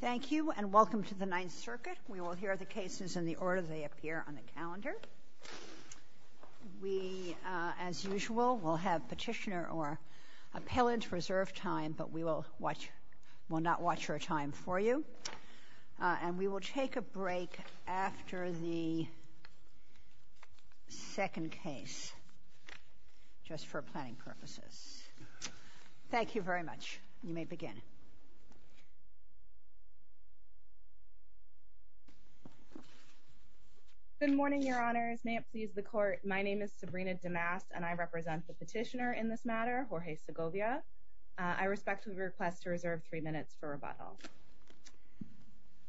Thank you, and welcome to the Ninth Circuit. We will hear the cases in the order they appear on the calendar. We, as usual, will have petitioner or appellant reserve time, but we will not watch your time for you. And we will take a break after the second case just for planning purposes. Thank you very much. You may begin. Good morning, Your Honors. May it please the Court, my name is Sabrina DeMast and I represent the petitioner in this matter, Jorge Segovia. I respectfully request to reserve three minutes for rebuttal.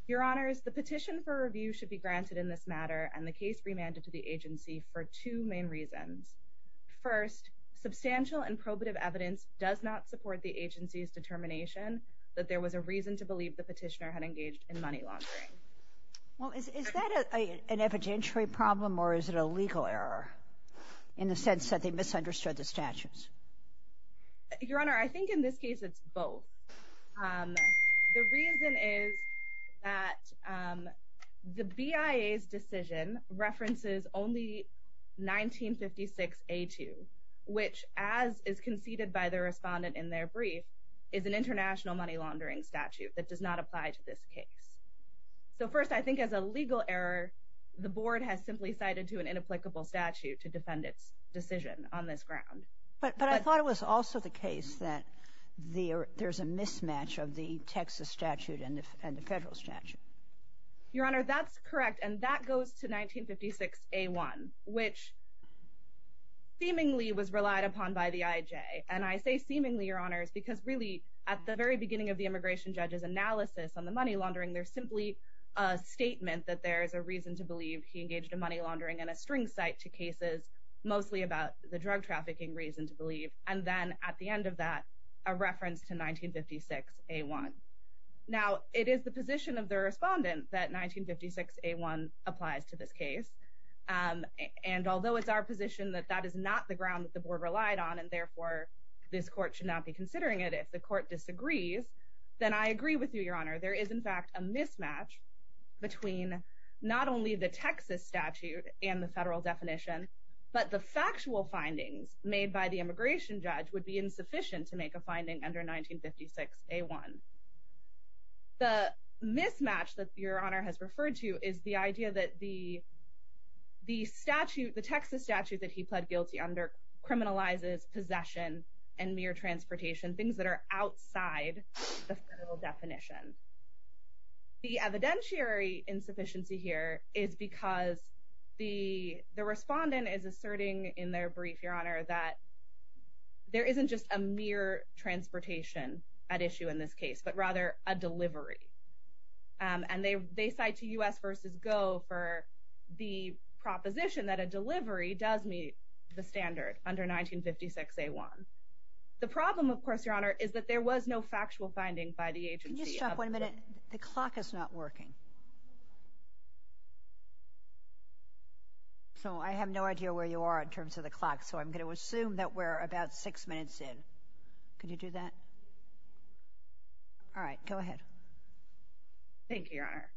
Your Honors, the petition for review should be granted in this matter and the case remanded to the agency for two main reasons. First, substantial and probative evidence does not support the agency's determination that there was a reason to believe the petitioner had engaged in money laundering. Well, is that an evidentiary problem or is it a legal error in the sense that they misunderstood the statutes? Your Honor, I think in this decision references only 1956A2, which, as is conceded by the respondent in their brief, is an international money laundering statute that does not apply to this case. So first, I think as a legal error, the Board has simply cited to an inapplicable statute to defend its decision on this ground. But I thought it was also the case that there's a mismatch of the Texas statute and the federal statute. Your Honor, that's correct, and that goes to 1956A1, which seemingly was relied upon by the IJ. And I say seemingly, Your Honors, because really at the very beginning of the immigration judge's analysis on the money laundering, there's simply a statement that there is a reason to believe he engaged in money laundering and a string cite to cases mostly about the drug trafficking reason to Now, it is the position of the respondent that 1956A1 applies to this case. And although it's our position that that is not the ground that the Board relied on, and therefore, this court should not be considering it, if the court disagrees, then I agree with you, Your Honor, there is in fact a mismatch between not only the Texas statute and the federal definition, but the factual findings made by the immigration judge would be insufficient to make a finding under 1956A1. The mismatch that Your Honor has referred to is the idea that the statute, the Texas statute that he pled guilty under criminalizes possession and mere transportation, things that are outside the federal definition. The evidentiary insufficiency here is because the respondent is asserting in their brief, that there isn't just a mere transportation at issue in this case, but rather a delivery. And they cite to U.S. v. Go for the proposition that a delivery does meet the standard under 1956A1. The problem, of course, Your Honor, is that there was no factual finding by the agency. Can you stop one minute? The clock is not working. So I have no idea where you are in terms of the clock, so I'm going to assume that we're about six minutes in. Could you do that? All right, go ahead. Thank you, Your Honor.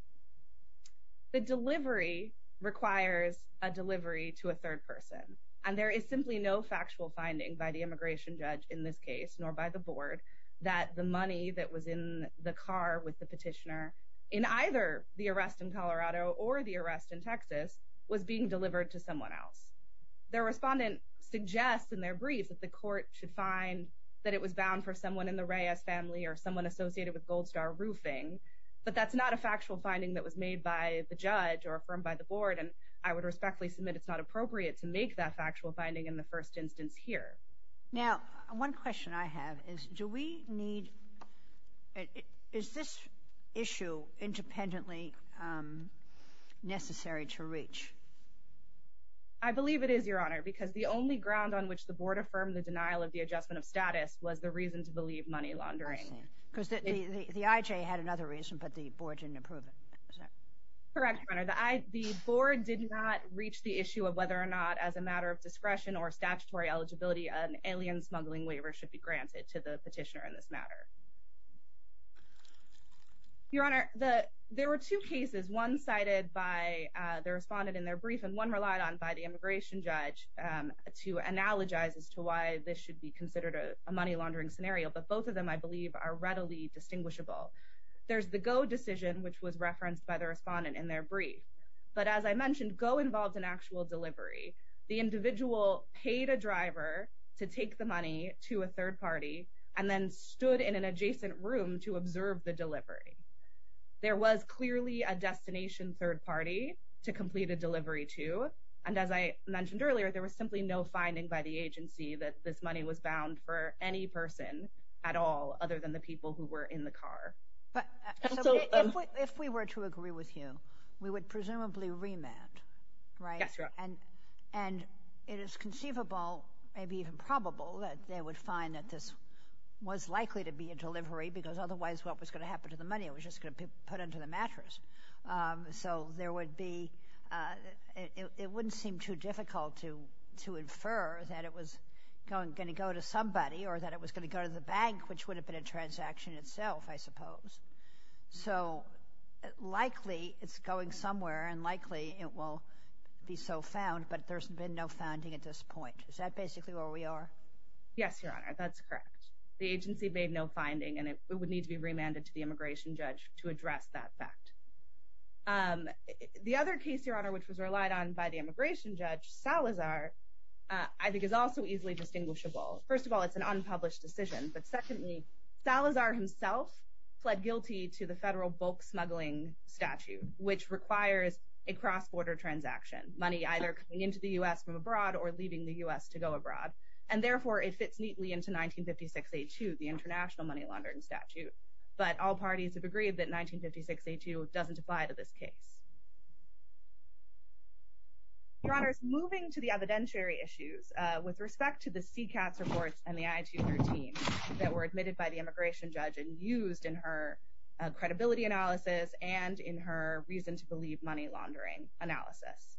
The delivery requires a delivery to a third person, and there is simply no factual finding by the immigration judge in this case, nor by the board, that the money that was in the car with the petitioner in either the arrest in Colorado or the arrest in Texas was being delivered to someone else. The respondent suggests in their brief that the court should find that it was bound for someone in the Reyes family or someone associated with Gold Star Roofing, but that's not a factual finding that was made by the judge or affirmed by the board, and I would respectfully submit it's not appropriate to make that factual I have is do we need, is this issue independently necessary to reach? I believe it is, Your Honor, because the only ground on which the board affirmed the denial of the adjustment of status was the reason to believe money laundering. Because the IJ had another reason, but the board didn't approve it. Correct, Your Honor. The board did not reach the issue of whether or not as a matter of petitioner in this matter. Your Honor, there were two cases, one cited by the respondent in their brief and one relied on by the immigration judge to analogize as to why this should be considered a money laundering scenario, but both of them I believe are readily distinguishable. There's the Go decision, which was referenced by the respondent in their brief, but as I mentioned, Go involved in actual delivery. The individual paid a driver to take the money to a third party and then stood in an adjacent room to observe the delivery. There was clearly a destination third party to complete a delivery to, and as I mentioned earlier, there was simply no finding by the agency that this money was bound for any person at all other than the people who were in the car. If we were to agree with you, we would presumably remand, right? Yes, Your Honor. And it is conceivable, maybe even probable, that they would find that this was likely to be a delivery because otherwise what was going to happen to the money? It was just going to be put under the mattress. So it wouldn't seem too difficult to infer that it was going to go to somebody or that it was going to go to the bank, which would have been a transaction itself, I suppose. So likely it's going somewhere and likely it will be so found, but there's been no finding at this point. Is that basically where we are? Yes, Your Honor, that's correct. The agency made no finding and it would need to be remanded to the immigration judge to address that fact. The other case, Your Honor, which was relied on by the immigration judge, Salazar, I think is also easily distinguishable. First of all, it's an unpublished decision, but secondly, Salazar himself pled guilty to the federal bulk smuggling statute, which requires a cross-border transaction, money either coming into the U.S. from abroad or leaving the U.S. to go abroad, and therefore it fits neatly into 1956A2, the international money laundering statute. But all parties have agreed that 1956A2 doesn't apply to this case. Your Honor, moving to the evidentiary issues, with respect to the CCAS reports and the I-213 that were admitted by the immigration judge and used in her credibility analysis and in her reason to believe money laundering analysis,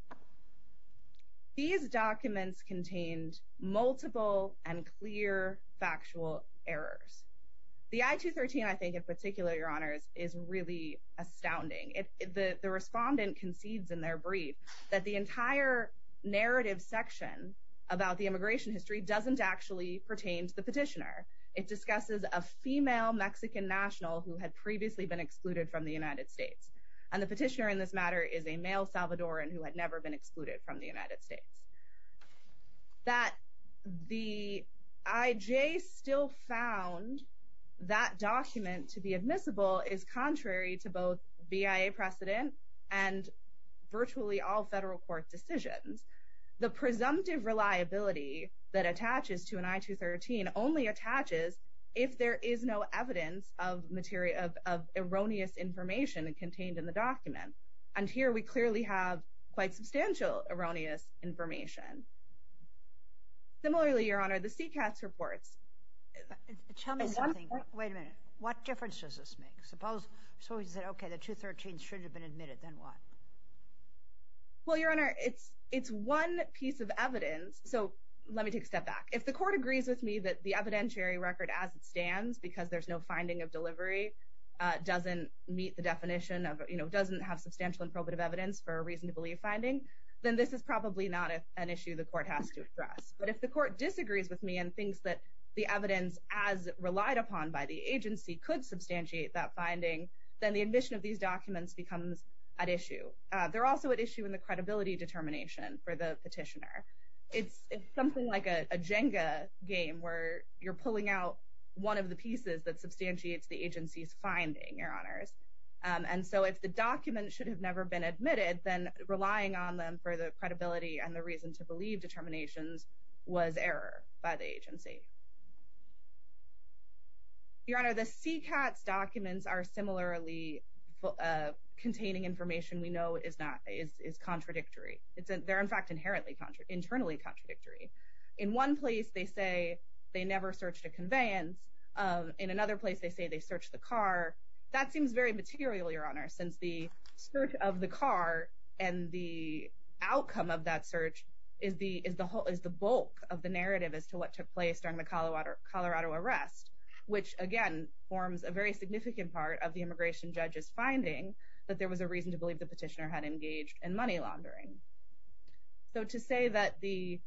these documents contained multiple and clear factual errors. The I-213, I think in particular, Your Honors, is really astounding. The respondent concedes in their brief that the entire narrative section about the immigration history doesn't actually pertain to the petitioner. It discusses a female Mexican national who had previously been excluded from the United States, and the petitioner in this matter is a male Salvadoran who had never been excluded from the United States. That the IJ still found that document to be admissible is contrary to both BIA precedent and virtually all federal court decisions. The presumptive reliability that attaches to an I-213 only attaches if there is no evidence of erroneous information contained in the document. And here we clearly have quite substantial erroneous information. Similarly, Your Honor, the CCAS reports... Tell me something. Wait a minute. What difference does this make? Suppose somebody said, okay, the 213 should have been admitted, then what? Well, Your Honor, it's one piece of evidence. So let me take a step back. If the court agrees with me that the evidentiary record as it stands, because there's no finding of delivery, doesn't meet the definition of, you know, doesn't have substantial and probative evidence for a reason to believe finding, then this is probably not an issue the court has to address. But if the court disagrees with me and thinks that the evidence as relied upon by the agency could substantiate that finding, then the admission of these documents becomes at issue. They're also at issue in the credibility determination for the petitioner. It's something like a Jenga game where you're pulling out one of the pieces that substantiates the agency's finding, Your Honors. And so if the document should have never been admitted, then relying on them for the credibility and the reason to believe determinations was error by the agency. Your Honor, the CCATS documents are similarly containing information we know is not, is contradictory. They're in fact inherently, internally contradictory. In one place, they say they never searched a conveyance. In another place, they say they searched the car. That seems very material, Your Honor, since the search of the car and the outcome of that search is the whole, is what took place during the Colorado arrest, which again forms a very significant part of the immigration judge's finding that there was a reason to believe the petitioner had engaged in money laundering. So to say that the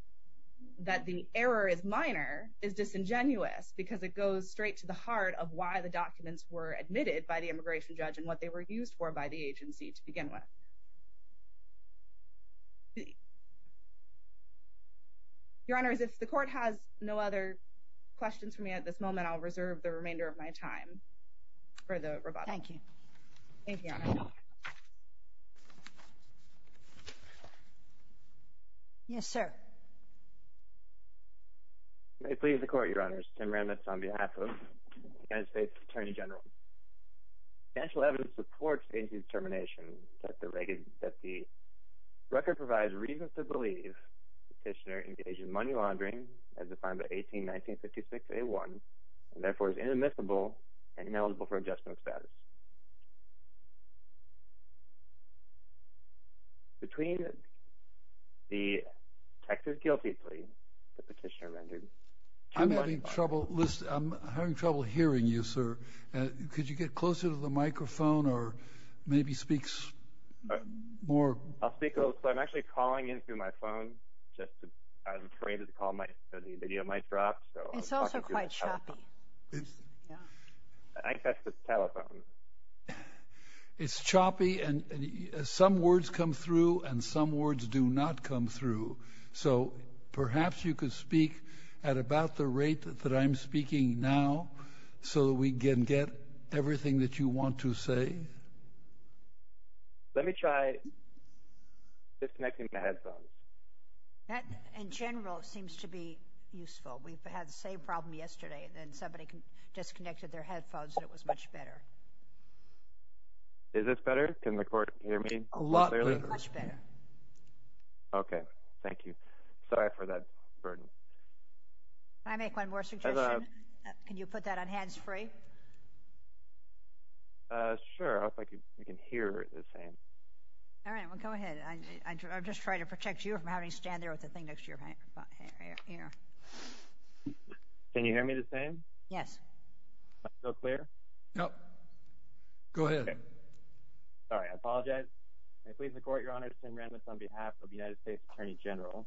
error is minor is disingenuous because it goes straight to the heart of why the documents were admitted by the immigration judge and what they were used for by agency to begin with. Your Honors, if the court has no other questions for me at this moment, I'll reserve the remainder of my time for the rebuttal. Thank you. Yes, sir. May it please the court, Your Honors. Tim Remitz on behalf of the United States Attorney General. Financial evidence supports agency's determination that the record provides reason to believe the petitioner engaged in money laundering as defined by 18-1956-A1 and therefore is inadmissible and ineligible for adjustment of status. Between the text of guilty plea the petitioner rendered... I'm having trouble, listen, I'm could you get closer to the microphone or maybe speak more? I'll speak a little, so I'm actually calling in through my phone just to, I was afraid that the call might, so the video might drop. It's also quite choppy. Yeah. I got the telephone. It's choppy and some words come through and some words do not come through. So perhaps you could at about the rate that I'm speaking now so that we can get everything that you want to say. Let me try disconnecting the headphones. That in general seems to be useful. We've had the same problem yesterday and somebody disconnected their headphones and it was much better. Is this better? Can the court hear me clearly? Much better. Okay. Thank you. Sorry for that burden. Can I make one more suggestion? Can you put that on hands free? Sure. I hope I can hear the same. All right. Well, go ahead. I'm just trying to protect you from having to stand there with the thing next to your ear. Can you hear me the same? Yes. Am I still clear? No. Go ahead. Sorry. I apologize. May it please the court, Your Honor, Sam Randolph on behalf of the United States Attorney General,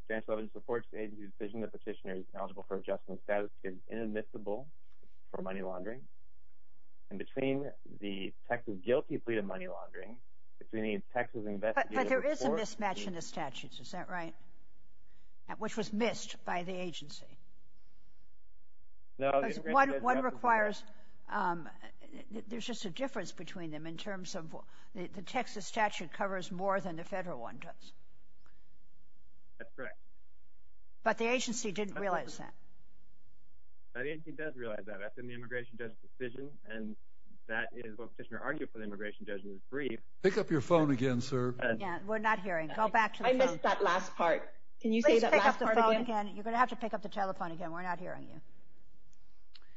substantial evidence supports the agency's decision that petitioner is eligible for adjustment status is inadmissible for money laundering. And between the Texas guilty plea to money laundering, if we need Texas investigators... But there is a mismatch in the statutes. Is that right? Which was missed by the agency? No. One requires... There's just a difference between them in terms of the Texas statute covers more than the federal one does. That's correct. But the agency didn't realize that. The agency does realize that. That's in the immigration judge's decision. And that is what petitioner argued for the immigration judge was brief. Pick up your phone again, sir. We're not hearing. Go back to the phone. I missed that last part. Can you say that last part again? Please pick up the phone again. You're going to have to pick up the telephone again. We're not hearing you.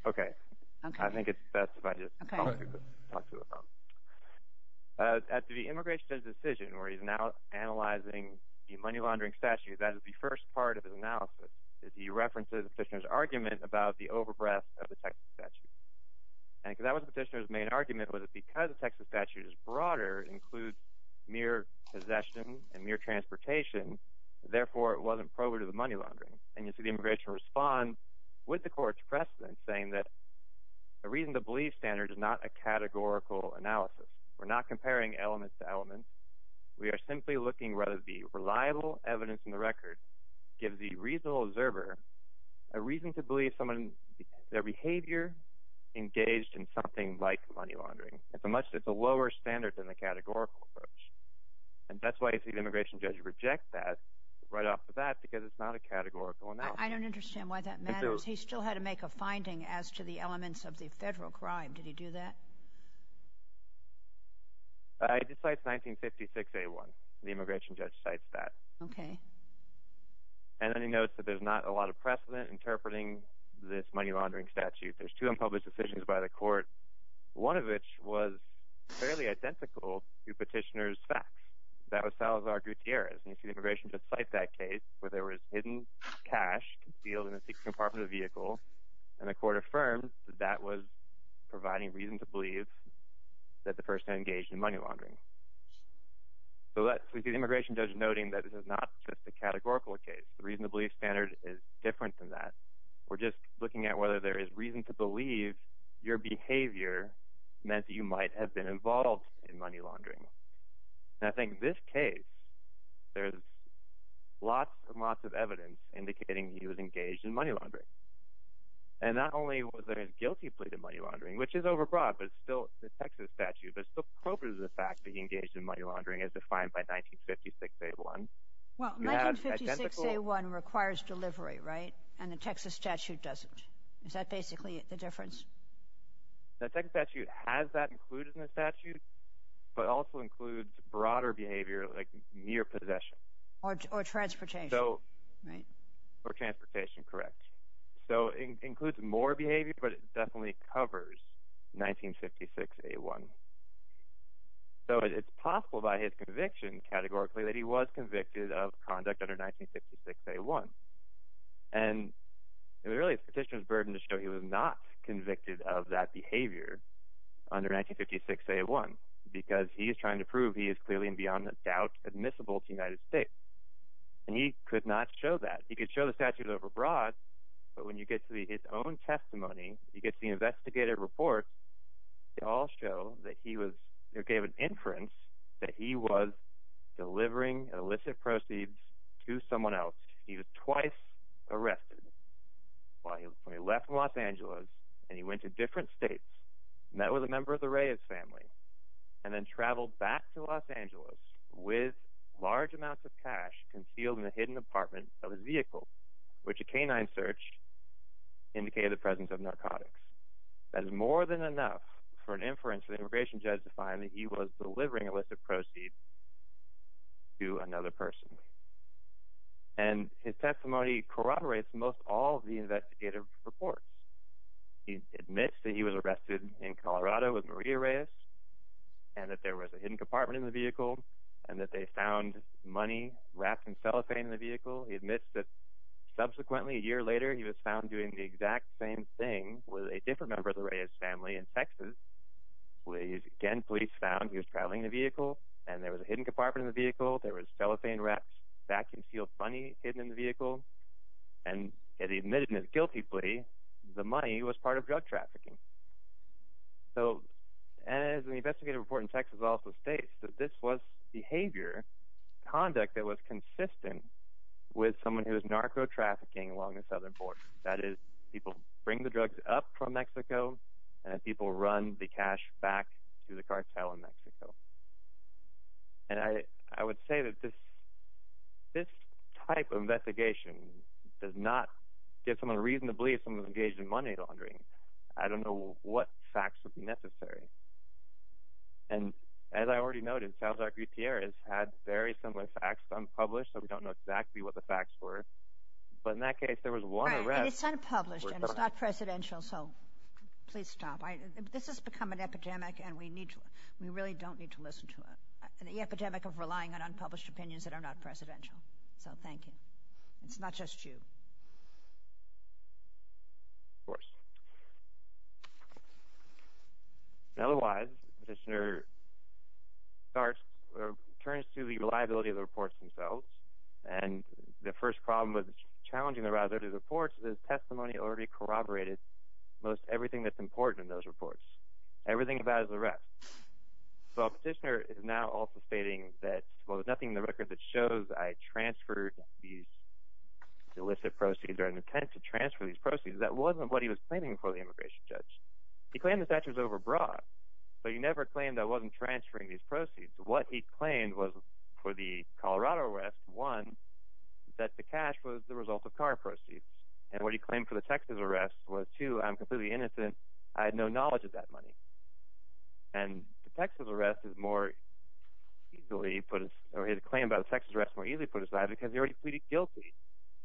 Okay. I think that's about it. Talk to the phone. At the immigration judge's decision, where he's now analyzing the money laundering statute, that is the first part of his analysis, is he references the petitioner's argument about the overbreath of the Texas statute. And because that was the petitioner's main argument, was it because the Texas statute is broader, includes mere possession and mere transportation, therefore it wasn't probative of money laundering. And you see the immigration respond with the court's precedent saying that a reason to believe standard is not a categorical analysis. We're not comparing elements to elements. We are simply looking whether the reliable evidence in the record gives the reasonable observer a reason to believe someone, their behavior engaged in something like money laundering. It's a much, it's a lower standard than the categorical approach. And that's why you see the immigration judge reject that right off the bat, because it's not a categorical analysis. I don't understand why that matters. He still had to make a finding as to the elements of the federal crime. Did he do that? It cites 1956A1. The immigration judge cites that. Okay. And then he notes that there's not a lot of precedent interpreting this money laundering statute. There's two unpublished decisions by the court, one of which was fairly identical to petitioner's facts. That was Salazar Gutierrez. And you see the immigration judge cite that case where there was hidden cash concealed in the compartment of the vehicle. And the court affirmed that that was providing reason to believe that the person engaged in money laundering. So let's, we see the immigration judge noting that this is not just a categorical case. The reason to believe standard is different than that. We're just looking at whether there is reason to believe your behavior meant that you might have been involved in money laundering. And I think this case, there's lots and lots of evidence indicating he was engaged in money laundering. And not only was there a guilty plea to money laundering, which is overbroad, but it's still the Texas statute, but it's still appropriate for the fact that he engaged in money laundering as defined by 1956A1. Well, 1956A1 requires delivery, right? And the Texas statute doesn't. Is that basically the difference? The Texas statute has that included in the statute, but also includes broader behavior, like mere possession. Or transportation. Right. Or transportation, correct. So it includes more behavior, but it definitely covers 1956A1. So it's possible by his conviction, categorically, that he was convicted of conduct under 1956A1. And it really is the petitioner's conviction of that behavior under 1956A1. Because he is trying to prove he is clearly, and beyond a doubt, admissible to the United States. And he could not show that. He could show the statute overbroad, but when you get to his own testimony, you get to the investigative report, they all show that he was, they gave an inference that he was delivering illicit went to different states, met with a member of the Reyes family, and then traveled back to Los Angeles with large amounts of cash concealed in a hidden apartment of his vehicle, which a canine search indicated the presence of narcotics. That is more than enough for an inference for the immigration judge to find that he was delivering illicit proceeds to another person. And his testimony corroborates most all the investigative reports. He admits that he was arrested in Colorado with Maria Reyes, and that there was a hidden compartment in the vehicle, and that they found money wrapped in cellophane in the vehicle. He admits that subsequently, a year later, he was found doing the exact same thing with a different member of the Reyes family in Texas, where he's again, police found he was traveling in a vehicle, and there was a hidden compartment in the vehicle, there was cellophane-wrapped, vacuum-sealed money hidden in the vehicle, and he admitted it guiltily, the money was part of drug trafficking. So, as the investigative report in Texas also states, that this was behavior, conduct that was consistent with someone who was narco-trafficking along the southern border. That is, people bring the drugs up from Mexico, and people run the cash back to the cartel in Mexico. And I would say that this type of investigation does not give someone a reason to believe someone was engaged in money laundering. I don't know what facts would be necessary. And as I already noted, Salazar Gutierrez had very similar facts, unpublished, so we don't know exactly what the facts were, but in that case, there was one arrest. And it's unpublished, and it's not presidential, so please stop. This has become an epidemic, and we really don't need to listen to it. An epidemic of relying on unpublished opinions that are not presidential. So, thank you. It's not just you. Of course. Otherwise, the Commissioner turns to the reliability of the reports themselves, and the first problem with challenging the reliability of the reports is testimony already corroborated most everything that's important in those reports. Everything about his arrest. So, a petitioner is now also stating that, well, there's nothing in the record that shows I transferred these illicit proceeds or an intent to transfer these proceeds. That wasn't what he was claiming for the immigration judge. He claimed the statute was overbroad, but he never claimed I wasn't transferring these proceeds. What he claimed was for the Colorado arrest, one, that the cash was the result of car proceeds. And what he claimed for the Texas arrest was, two, I'm completely innocent. I had no knowledge of that money. And the Texas arrest is more easily put, or his claim about the Texas arrest is more easily put aside because he already pleaded guilty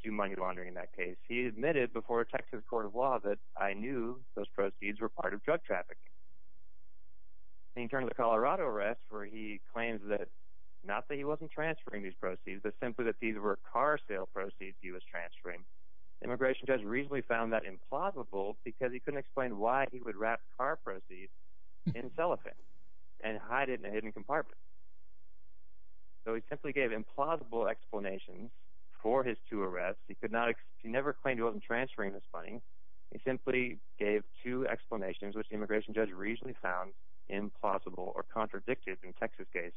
to money laundering in that case. He admitted before Texas court of law that I knew those proceeds were part of drug traffic. He turned to the Colorado arrest where he claims that, not that he wasn't transferring these proceeds, but simply that these were car sale proceeds he was transferring. The immigration judge reasonably found that implausible because he couldn't explain why he would wrap car proceeds in cellophane and hide it in a hidden compartment. So, he simply gave implausible explanations for his two arrests. He could not, he never claimed he wasn't transferring this money. He simply gave two explanations, which the immigration judge reasonably found implausible or contradicted in the Texas case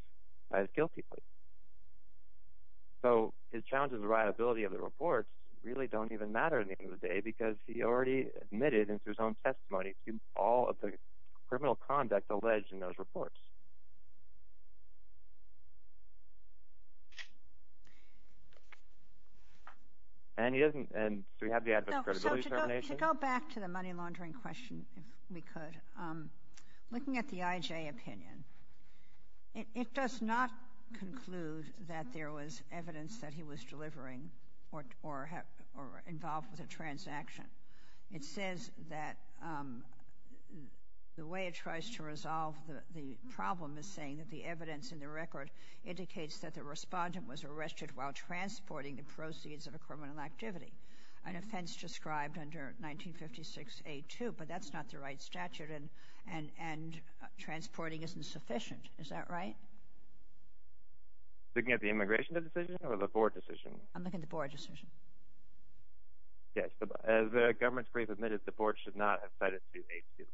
as guilty plea. So, his challenge of the reliability of the reports really don't even matter at the end of the day because he already admitted into his own testimony to all of the criminal conduct alleged in those reports. And he doesn't, and so we have the adverse credibility termination. To go back to the money laundering question, if we could, looking at the IJ opinion, it does not conclude that there was evidence that he was delivering or involved with a transaction. It says that the way it tries to resolve the problem is saying that the evidence in the record indicates that the respondent was arrested while transporting the proceeds of a criminal activity, an offense described under 1956A2, but that's not the right statute and transporting isn't sufficient. Is that right? Looking at the immigration decision or the board decision? I'm looking at the board decision. Yes, but as the government's brief admitted, the board should not have cited 2A2.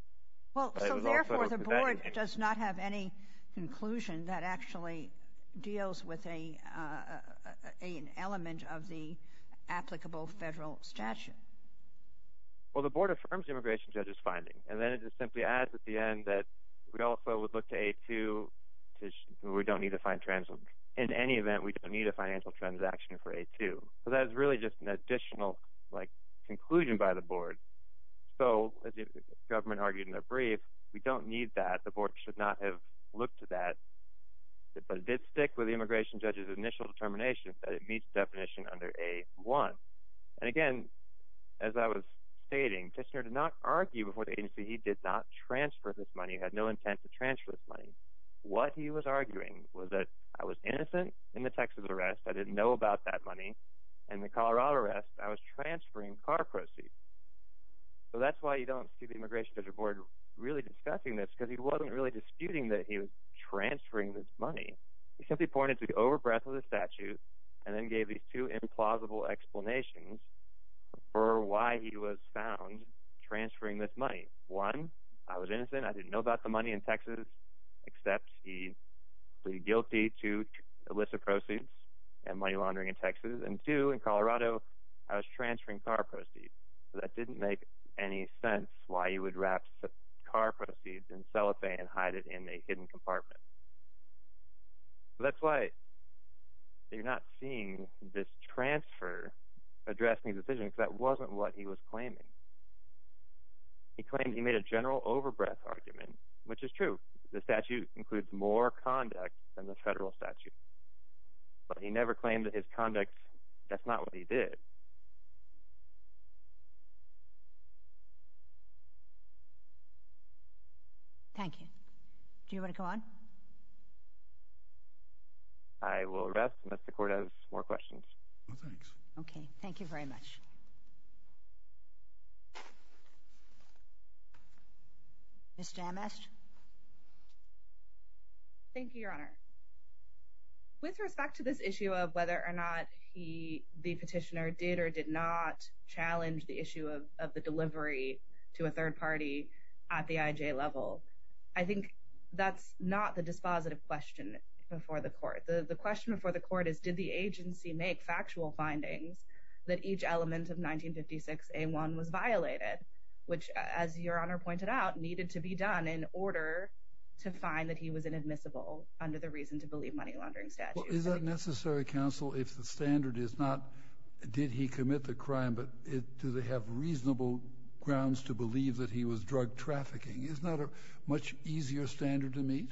Well, so therefore, the board does not have any conclusion that actually deals with an element of applicable federal statute. Well, the board affirms the immigration judge's finding, and then it just simply adds at the end that we also would look to A2, and we don't need to find transactions. In any event, we don't need a financial transaction for A2, so that is really just an additional conclusion by the board. So, as the government argued in their brief, we don't need that. The board should not have looked at that, but it did stick with the immigration judge's initial determination that it meets the definition under A1. And again, as I was stating, Tishner did not argue before the agency he did not transfer this money, had no intent to transfer this money. What he was arguing was that I was innocent in the Texas arrest, I didn't know about that money, and the Colorado arrest, I was transferring car proceeds. So, that's why you don't see the immigration judge or board really discussing this, because he wasn't really disputing that he was and then gave these two implausible explanations for why he was found transferring this money. One, I was innocent, I didn't know about the money in Texas, except he plead guilty to illicit proceeds and money laundering in Texas. And two, in Colorado, I was transferring car proceeds. So, that didn't make any sense why he would wrap car proceeds in cellophane and hide it in a You're not seeing this transfer addressing the decision, because that wasn't what he was claiming. He claimed he made a general overbreadth argument, which is true. The statute includes more conduct than the federal statute, but he never claimed that his conduct, that's not what he did. Thank you. Do you want to go on? I will arrest Mr. Cortez. More questions? No, thanks. Okay, thank you very much. Ms. Jamez. Thank you, Your Honor. With respect to this issue of whether or not he, the petitioner, did or did not challenge the issue of the delivery to a third party at the IJ level, I think that's not the dispositive question before the court. The question before the court is, did the agency make factual findings that each element of 1956A1 was violated, which, as Your Honor pointed out, needed to be done in order to find that he was inadmissible under the reason to believe money laundering statute? Is that necessary, counsel, if the standard is not, did he commit the crime, but do they have reasonable grounds to believe that he was trafficking? Isn't that a much easier standard to meet?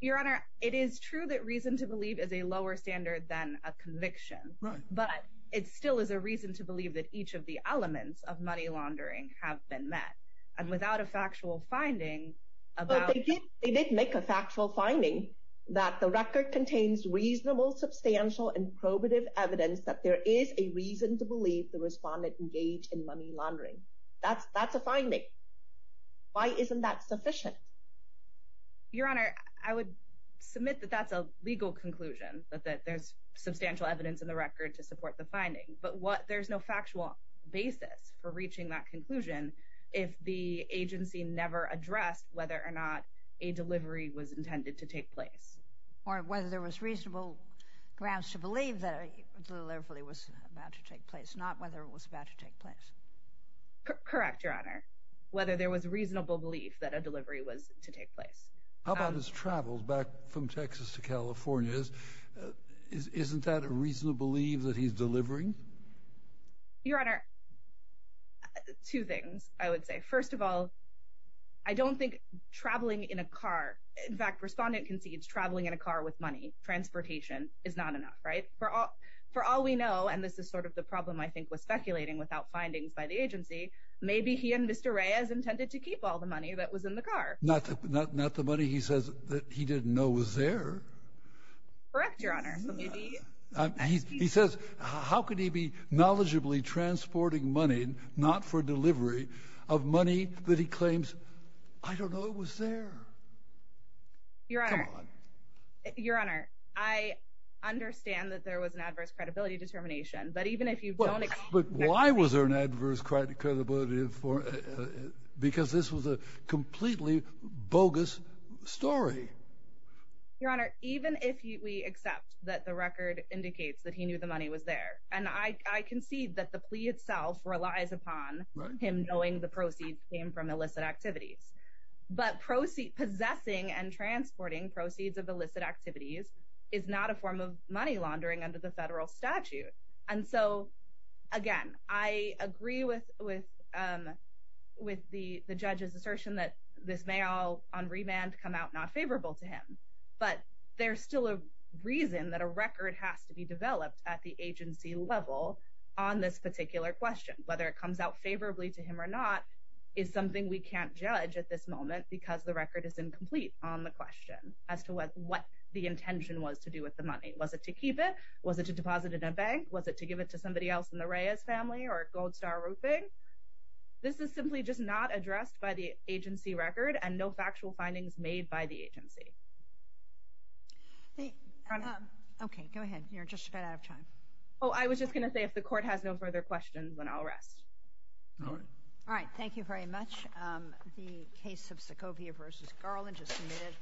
Your Honor, it is true that reason to believe is a lower standard than a conviction, but it still is a reason to believe that each of the elements of money laundering have been met, and without a factual finding about... But they did make a factual finding that the record contains reasonable, substantial, and probative evidence that there is a reason to believe the respondent engaged in Why isn't that sufficient? Your Honor, I would submit that that's a legal conclusion, that there's substantial evidence in the record to support the finding, but there's no factual basis for reaching that conclusion if the agency never addressed whether or not a delivery was intended to take place. Or whether there was reasonable grounds to believe that a delivery was about to take place, not whether it was about to take place. Correct, Your Honor. Whether there was reasonable belief that a delivery was to take place. How about his travels back from Texas to California? Isn't that a reason to believe that he's delivering? Your Honor, two things, I would say. First of all, I don't think traveling in a car... In fact, respondent concedes traveling in a car with money, transportation, is not enough, right? For all we know, and this is sort of the problem, I think, with speculating without findings by the agency, maybe he and Mr. Reyes intended to keep all the money that was in the car. Not the money, he says, that he didn't know was there. Correct, Your Honor. He says, how could he be knowledgeably transporting money, not for delivery, of money that he claims, I don't know it was there? Your Honor, I understand that there was an adverse credibility determination, but even if you don't accept... But why was there an adverse credibility? Because this was a completely bogus story. Your Honor, even if we accept that the record indicates that he knew the money was there, and I concede that the plea itself relies upon him knowing the proceeds came from illicit activities, but possessing and transporting proceeds of illicit activities is not a form of money laundering under the federal statute. And so, again, I agree with the judge's assertion that this may all, on remand, come out not favorable to him. But there's still a reason that a record has to be developed at the agency level on this particular question. Whether it comes out favorably to him or not is something we can't judge at this moment because the record is incomplete on the question as to what the intention was to do with the money. Was it to keep it? Was it to deposit it in a bank? Was it to give it to somebody else in the Reyes family or Gold Star Roofing? This is simply just not addressed by the agency record and no factual findings made by the agency. Okay, go ahead. You're just about out of time. Oh, I was just going to say if the court has no further questions, then I'll rest. All right. All right. Thank you very much. The case of Sokovia v. Garland is submitted.